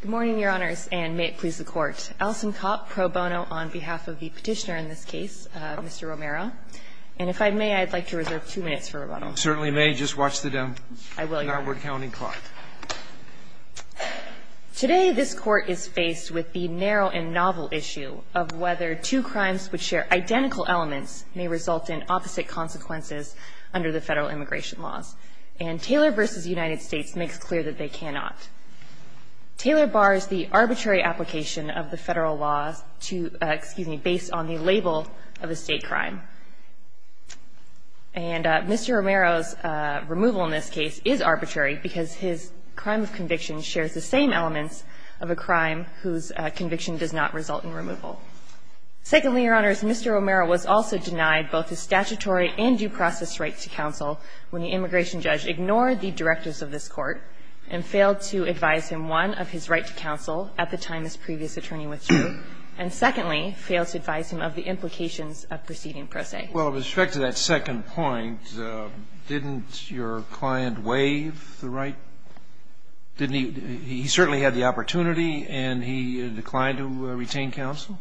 Good morning, Your Honors, and may it please the Court. Alison Kopp, pro bono, on behalf of the petitioner in this case, Mr. Romero. And if I may, I'd like to reserve two minutes for rebuttal. You certainly may. Just watch the demo. I will, Your Honor. The Narwood County Court. Today, this Court is faced with the narrow and novel issue of whether two crimes which share identical elements may result in opposite consequences under the Federal Immigration laws. And Taylor v. United States makes clear that they cannot. Taylor bars the arbitrary application of the Federal laws to, excuse me, based on the label of a state crime. And Mr. Romero's removal in this case is arbitrary because his crime of conviction shares the same elements of a crime whose conviction does not result in removal. Secondly, Your Honors, Mr. Romero was also denied both his statutory and due process rights to counsel when the immigration judge ignored the directives of this Court and failed to advise him, one, of his right to counsel at the time this previous attorney withdrew, and secondly, failed to advise him of the implications of proceeding pro se. Well, with respect to that second point, didn't your client waive the right? Didn't he – he certainly had the opportunity and he declined to retain counsel?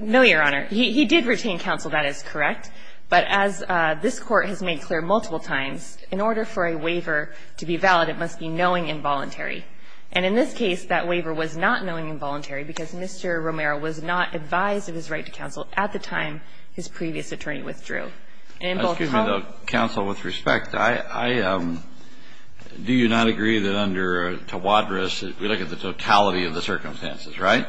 No, Your Honor. He did retain counsel, that is correct. But as this Court has made clear multiple times, in order for a waiver to be valid, it must be knowing involuntary. And in this case, that waiver was not knowing involuntary because Mr. Romero was not advised of his right to counsel at the time his previous attorney withdrew. And in both cases – Excuse me, though, counsel, with respect, I – do you not agree that under Tawadros, we look at the totality of the circumstances, right?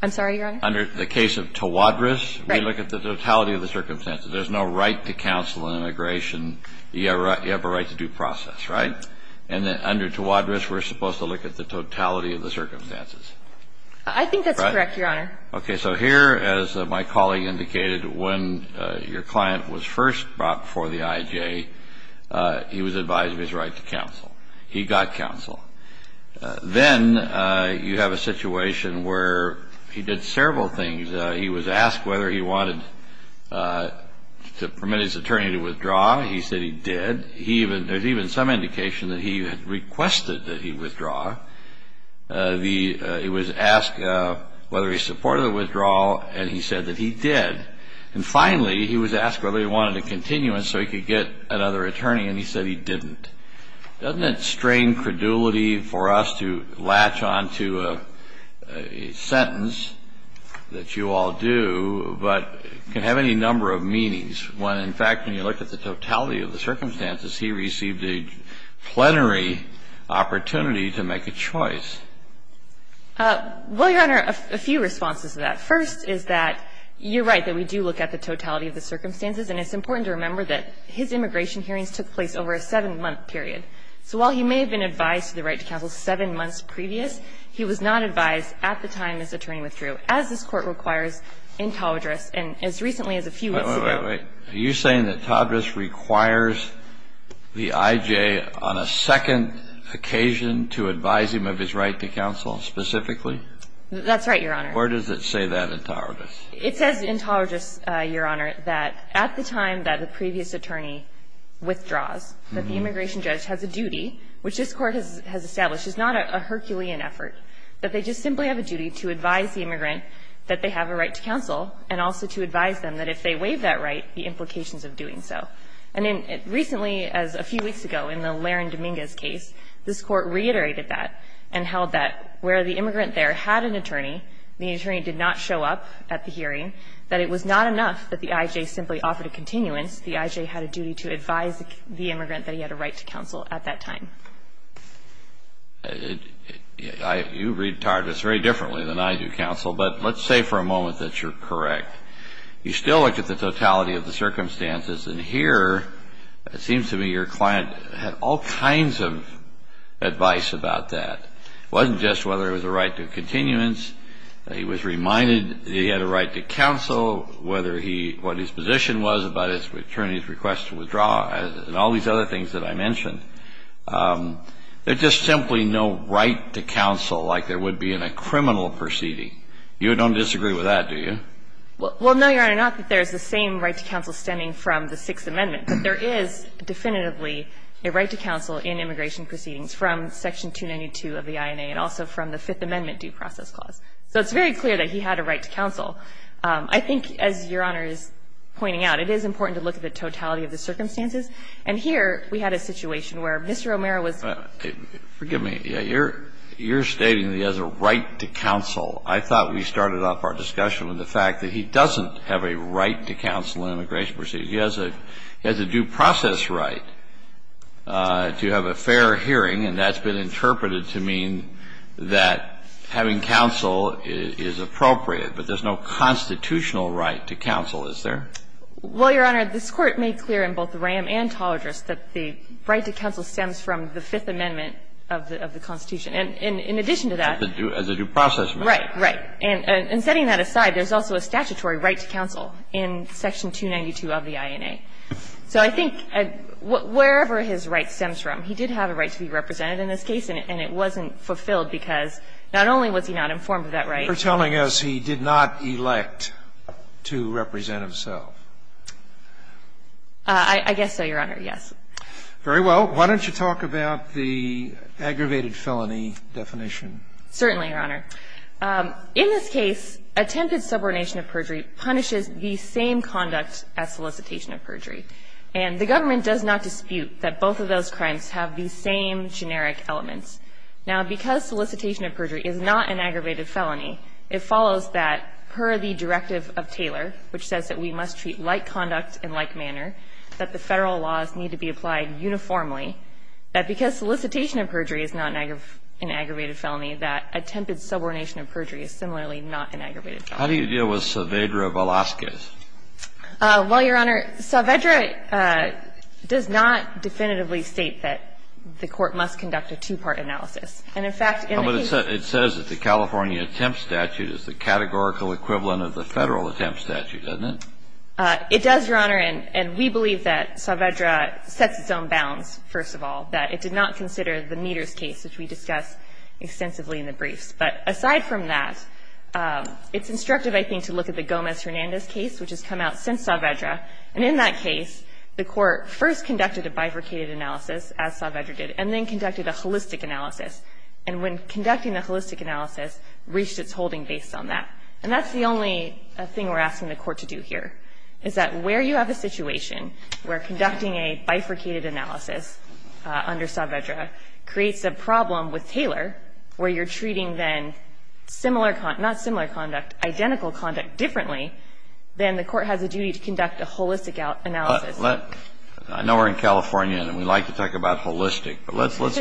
I'm sorry, Your Honor? Under the case of Tawadros, we look at the totality of the circumstances. There's no right to counsel in immigration. You have a right to due process, right? And under Tawadros, we're supposed to look at the totality of the circumstances. I think that's correct, Your Honor. Okay. So here, as my colleague indicated, when your client was first brought before the IJ, he was advised of his right to counsel. He got counsel. Then you have a situation where he did several things. He was asked whether he wanted to permit his attorney to withdraw. He said he did. There's even some indication that he had requested that he withdraw. He was asked whether he supported the withdrawal, and he said that he did. And finally, he was asked whether he wanted a continuance so he could get another attorney, and he said he didn't. Doesn't it strain credulity for us to latch on to a sentence that you all do, but can have any number of meanings? When, in fact, when you look at the totality of the circumstances, he received a plenary opportunity to make a choice. Well, Your Honor, a few responses to that. First is that you're right, that we do look at the totality of the circumstances. And it's important to remember that his immigration hearings took place over a seven-month period. So while he may have been advised of the right to counsel seven months previous, he was not advised at the time his attorney withdrew, as this Court requires in Tawadros and as recently as a few weeks ago. Wait, wait, wait. Are you saying that Tawadros requires the I.J. on a second occasion to advise him of his right to counsel specifically? That's right, Your Honor. Where does it say that in Tawadros? It says in Tawadros, Your Honor, that at the time that the previous attorney withdraws, that the immigration judge has a duty, which this Court has established is not a Herculean effort, that they just simply have a duty to advise the immigrant that they have a right to counsel and also to advise them that if they waive that right, the implications of doing so. And recently, as a few weeks ago in the Laron-Dominguez case, this Court reiterated that and held that where the immigrant there had an attorney, the attorney did not show up at the hearing, that it was not enough that the I.J. simply offered a continuance. The I.J. had a duty to advise the immigrant that he had a right to counsel at that time. You read Tawadros very differently than I do, counsel, but let's say for a moment that you're correct. You still look at the totality of the circumstances, and here it seems to me your client had all kinds of advice about that. It wasn't just whether it was a right to continuance. He was reminded that he had a right to counsel, whether he, what his position was about his attorney's request to withdraw, and all these other things that I mentioned. There's just simply no right to counsel like there would be in a criminal proceeding. You don't disagree with that, do you? Well, no, Your Honor, not that there's the same right to counsel stemming from the Sixth Amendment, but there is definitively a right to counsel in immigration proceedings from Section 292 of the INA and also from the Fifth Amendment due process clause. So it's very clear that he had a right to counsel. I think, as Your Honor is pointing out, it is important to look at the totality of the circumstances, and here we had a situation where Mr. O'Meara was going to say that he had a right to counsel. I thought we started off our discussion with the fact that he doesn't have a right to counsel in immigration proceedings. He has a due process right to have a fair hearing, and that's been interpreted to mean that having counsel is appropriate, but there's no constitutional right to counsel, is there? Well, Your Honor, this Court made clear in both the Ram and Tall Address that the right to counsel stems from the Fifth Amendment of the Constitution. And in addition to that the due process right. Right, right. And setting that aside, there's also a statutory right to counsel in Section 292 of the INA. So I think wherever his right stems from, he did have a right to be represented in this case, and it wasn't fulfilled because not only was he not informed of that right. You're telling us he did not elect to represent himself. I guess so, Your Honor, yes. Very well. Why don't you talk about the aggravated felony definition? Certainly, Your Honor. In this case, attempted subordination of perjury punishes the same conduct as solicitation of perjury. And the government does not dispute that both of those crimes have the same generic elements. Now, because solicitation of perjury is not an aggravated felony, it follows that per the directive of Taylor, which says that we must treat like conduct and like manner, that the Federal laws need to be applied uniformly, that because solicitation of perjury is not an aggravated felony, that attempted subordination of perjury is similarly not an aggravated felony. How do you deal with Saavedra Velazquez? Well, Your Honor, Saavedra does not definitively state that the Court must conduct a two-part analysis. And, in fact, in the case It says that the California Attempt Statute is the categorical equivalent of the Federal Attempt Statute, doesn't it? It does, Your Honor, and we believe that Saavedra sets its own bounds, first of all, that it did not consider the Meaders case, which we discussed extensively in the briefs. But aside from that, it's instructive, I think, to look at the Gomez-Hernandez case, which has come out since Saavedra. And in that case, the Court first conducted a bifurcated analysis, as Saavedra did, and then conducted a holistic analysis. And when conducting the holistic analysis, reached its holding based on that. And that's the only thing we're asking the Court to do here, is that where you have a situation where conducting a bifurcated analysis under Saavedra creates a problem with Taylor, where you're treating then similar con – not similar conduct, identical conduct differently, then the Court has a duty to conduct a holistic analysis. I know we're in California, and we like to talk about holistic. But let's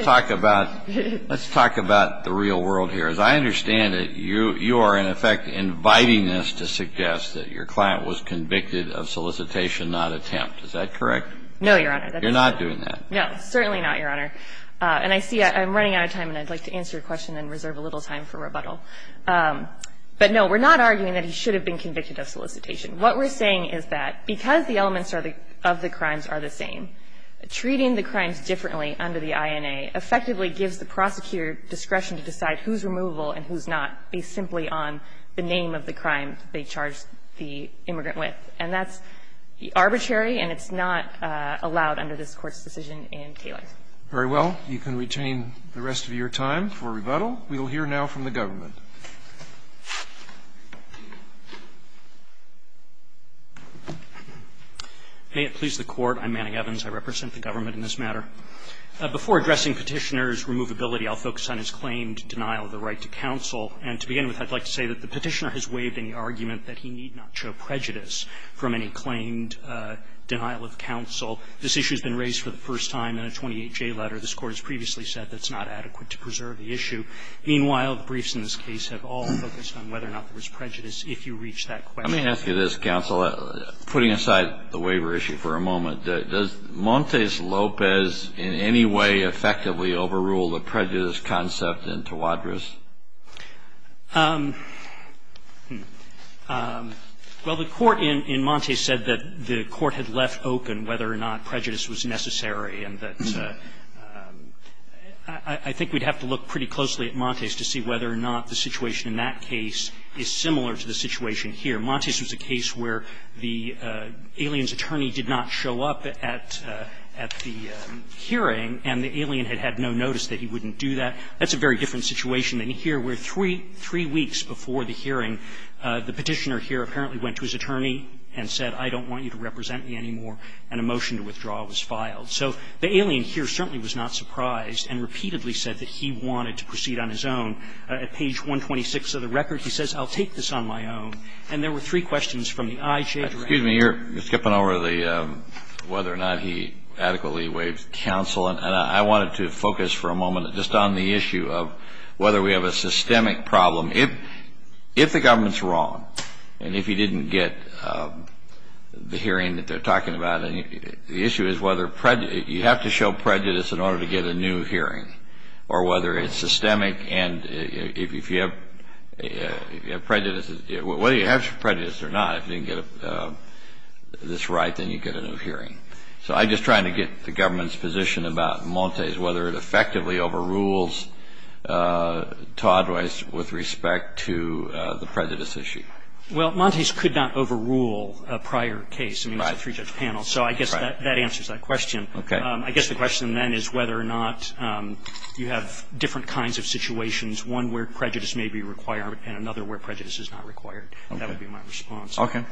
talk about the real world here. As I understand it, you are, in effect, inviting us to suggest that your client was convicted of solicitation, not attempt. Is that correct? No, Your Honor. You're not doing that. No. Certainly not, Your Honor. And I see I'm running out of time, and I'd like to answer your question and reserve a little time for rebuttal. But, no, we're not arguing that he should have been convicted of solicitation. What we're saying is that because the elements are the – of the crimes are the same, treating the crimes differently under the INA effectively gives the prosecutor discretion to decide who's removable and who's not based simply on the name of the crime they charged the immigrant with. And that's arbitrary, and it's not allowed under this Court's decision in Taylor. Very well. You can retain the rest of your time for rebuttal. We will hear now from the government. May it please the Court. I'm Manning Evans. I represent the government in this matter. Before addressing Petitioner's removability, I'll focus on his claim to denial of the right to counsel. And to begin with, I'd like to say that the Petitioner has waived any argument that he need not show prejudice from any claimed denial of counsel. This issue has been raised for the first time in a 28-J letter. This Court has previously said that's not adequate to preserve the issue. Meanwhile, the briefs in this case have all focused on whether or not there was prejudice if you reach that question. Let me ask you this, counsel, putting aside the waiver issue for a moment. Does Montes Lopez in any way effectively overrule the prejudice concept in Tawadros? Well, the Court in Montes said that the Court had left open whether or not prejudice was necessary, and that I think we'd have to look pretty closely at Montes to see whether or not the situation in that case is similar to the situation here. Montes was a case where the alien's attorney did not show up at the hearing, and the alien had had no notice that he wouldn't do that. That's a very different situation than here, where three weeks before the hearing, the Petitioner here apparently went to his attorney and said, I don't want you to represent me anymore, and a motion to withdraw was filed. So the alien here certainly was not surprised and repeatedly said that he wanted to proceed on his own. At page 126 of the record, he says, I'll take this on my own. And there were three questions from the IJ Director. Excuse me. You're skipping over the whether or not he adequately waived counsel, and I wanted to focus for a moment just on the issue of whether we have a systemic problem. If the government's wrong, and if you didn't get the hearing that they're talking about, the issue is whether you have to show prejudice in order to get a new hearing, or whether it's systemic, and if you have prejudice, whether you have prejudice or not, if you didn't get this right, then you get a new hearing. So I'm just trying to get the government's position about Montes, whether it effectively overrules Toddwise with respect to the prejudice issue. Well, Montes could not overrule a prior case. Right. I mean, it's a three-judge panel. So I guess that answers that question. Okay. I guess the question then is whether or not you have different kinds of situations, one where prejudice may be required and another where prejudice is not required. That would be my response. Okay.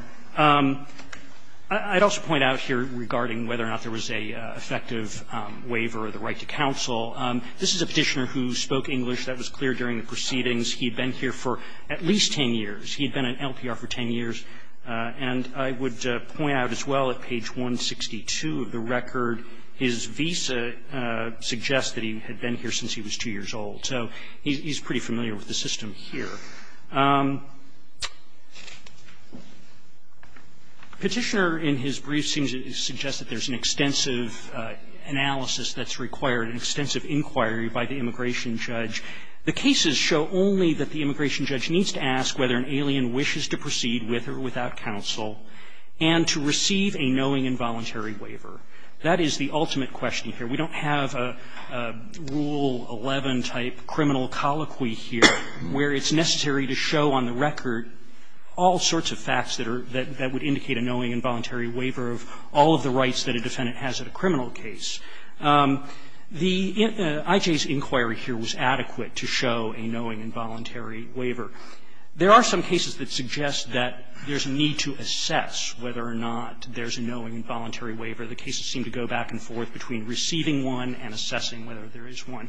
I'd also point out here regarding whether or not there was an effective waiver or the right to counsel. This is a Petitioner who spoke English. That was clear during the proceedings. He had been here for at least 10 years. He had been in LPR for 10 years. And I would point out as well, at page 162 of the record, his visa suggests that he had been here since he was 2 years old. So he's pretty familiar with the system here. Petitioner in his brief seems to suggest that there's an extensive analysis that's required, an extensive inquiry by the immigration judge. The cases show only that the immigration judge needs to ask whether an alien wishes to proceed with or without counsel and to receive a knowing and voluntary waiver. That is the ultimate question here. We don't have a Rule 11-type criminal colloquy here where it's necessary to show on the record all sorts of facts that are, that would indicate a knowing and voluntary waiver of all of the rights that a defendant has at a criminal case. The IJ's inquiry here was adequate to show a knowing and voluntary waiver. There are some cases that suggest that there's a need to assess whether or not there's a knowing and voluntary waiver. The cases seem to go back and forth between receiving one and assessing whether there is one.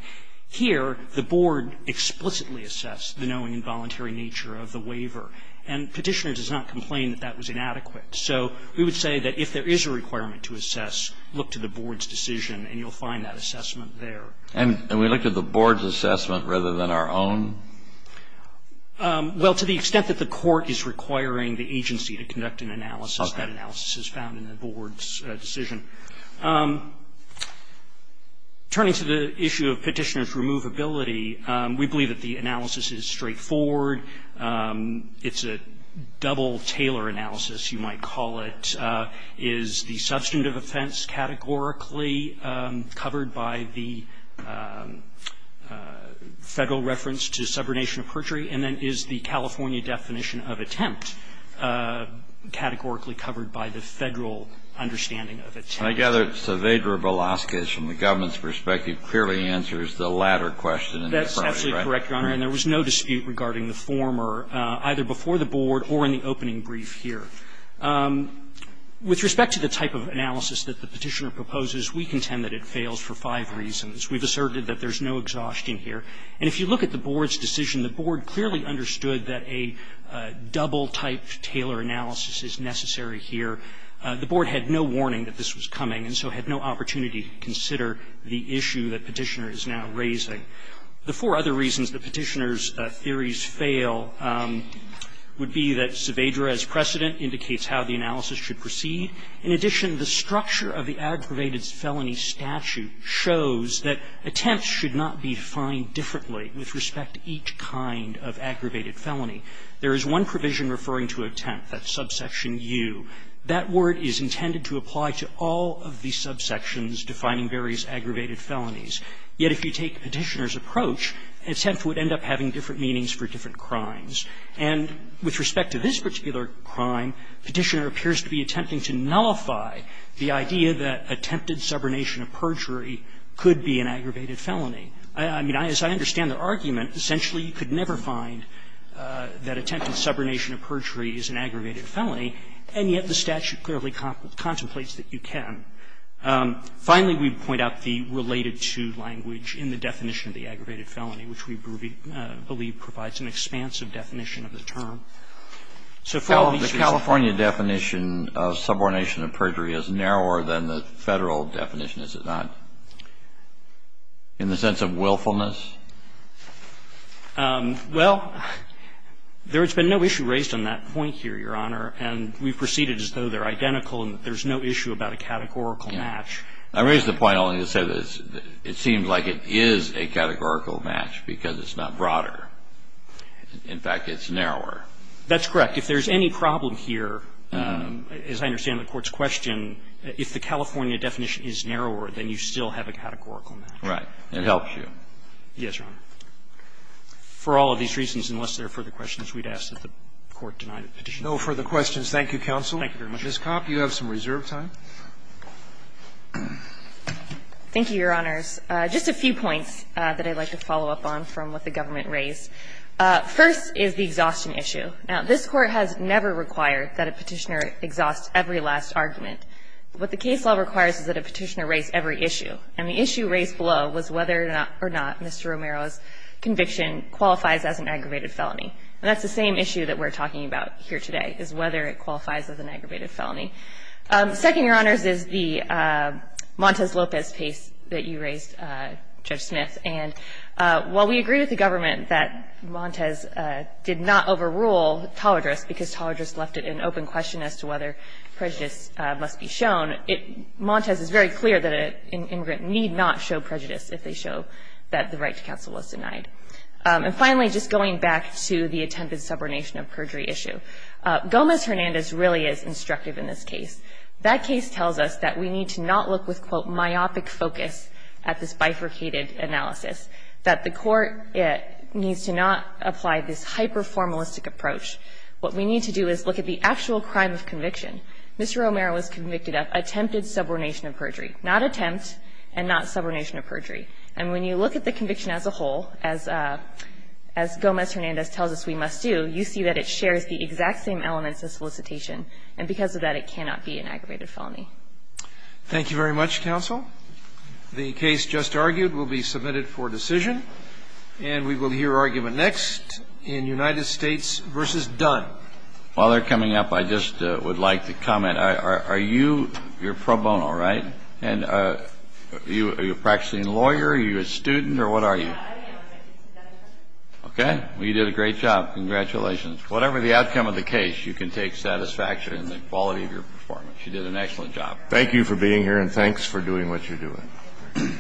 Here, the board explicitly assessed the knowing and voluntary nature of the waiver. And Petitioner does not complain that that was inadequate. So we would say that if there is a requirement to assess, look to the board's decision and you'll find that assessment there. And we looked at the board's assessment rather than our own? Well, to the extent that the court is requiring the agency to conduct an analysis, that analysis is found in the board's decision. Turning to the issue of Petitioner's removability, we believe that the analysis is straightforward. It's a double-tailor analysis, you might call it. Is the substantive offense categorically covered by the Federal reference to subordination of perjury? And then is the California definition of attempt categorically covered by the Federal understanding of attempt? And I gather that Saavedra Belasquez, from the government's perspective, clearly answers the latter question. That's absolutely correct, Your Honor. And there was no dispute regarding the former, either before the board or in the opening brief here. With respect to the type of analysis that the Petitioner proposes, we contend that it fails for five reasons. We've asserted that there's no exhaustion here. And if you look at the board's decision, the board clearly understood that a double-type tailor analysis is necessary here. The board had no warning that this was coming, and so had no opportunity to consider the issue that Petitioner is now raising. The four other reasons that Petitioner's theories fail would be that Saavedra's precedent indicates how the analysis should proceed. In addition, the structure of the aggravated felony statute shows that attempts should not be defined differently with respect to each kind of aggravated felony. There is one provision referring to attempt. That's subsection U. That word is intended to apply to all of the subsections defining various aggravated felonies. Yet if you take Petitioner's approach, attempt would end up having different meanings for different crimes. And with respect to this particular crime, Petitioner appears to be attempting to nullify the idea that attempted subordination of perjury could be an aggravated felony. I mean, as I understand the argument, essentially you could never find that attempted subordination of perjury is an aggravated felony. And yet the statute clearly contemplates that you can. Finally, we point out the related to language in the definition of the aggravated felony, which we believe provides an expansive definition of the term. So for all of these reasons. Kennedy. The California definition of subordination of perjury is narrower than the Federal definition, is it not? In the sense of willfulness? Well, there has been no issue raised on that point here, Your Honor. And we've proceeded as though they're identical and there's no issue about a categorical match. I raise the point only to say that it seems like it is a categorical match because it's not broader. In fact, it's narrower. That's correct. If there's any problem here, as I understand the Court's question, if the California definition is narrower, then you still have a categorical match. Right. It helps you. Yes, Your Honor. For all of these reasons, unless there are further questions, we'd ask that the Court deny the petition. No further questions. Thank you, counsel. Thank you very much. Ms. Kopp, you have some reserve time. Thank you, Your Honors. Just a few points that I'd like to follow up on from what the government raised. First is the exhaustion issue. Now, this Court has never required that a petitioner exhaust every last argument. What the case law requires is that a petitioner raise every issue. And the issue raised below was whether or not Mr. Romero's conviction qualifies as an aggravated felony. And that's the same issue that we're talking about here today, is whether it qualifies as an aggravated felony. Second, Your Honors, is the Montes-Lopez case that you raised, Judge Smith. And while we agree with the government that Montes did not overrule Talladrez because Talladrez left it an open question as to whether prejudice must be shown, Montes is very clear that an immigrant need not show prejudice if they show that the right to counsel was denied. And finally, just going back to the attempted subordination of perjury issue, Gomez-Hernandez really is instructive in this case. That case tells us that we need to not look with, quote, myopic focus at this bifurcated analysis, that the Court needs to not apply this hyper-formalistic approach. What we need to do is look at the actual crime of conviction. Mr. Romero was convicted of attempted subordination of perjury. Not attempt and not subordination of perjury. And when you look at the conviction as a whole, as Gomez-Hernandez tells us we must do, you see that it shares the exact same elements of solicitation. And because of that, it cannot be an aggravated felony. Thank you very much, counsel. The case just argued will be submitted for decision. And we will hear argument next in United States v. Dunn. While they're coming up, I just would like to comment. Are you, you're pro bono, right? And are you a practicing lawyer? Are you a student? Or what are you? Okay. Well, you did a great job. Congratulations. Whatever the outcome of the case, you can take satisfaction in the quality of your You did an excellent job. Thank you for being here and thanks for doing what you're doing.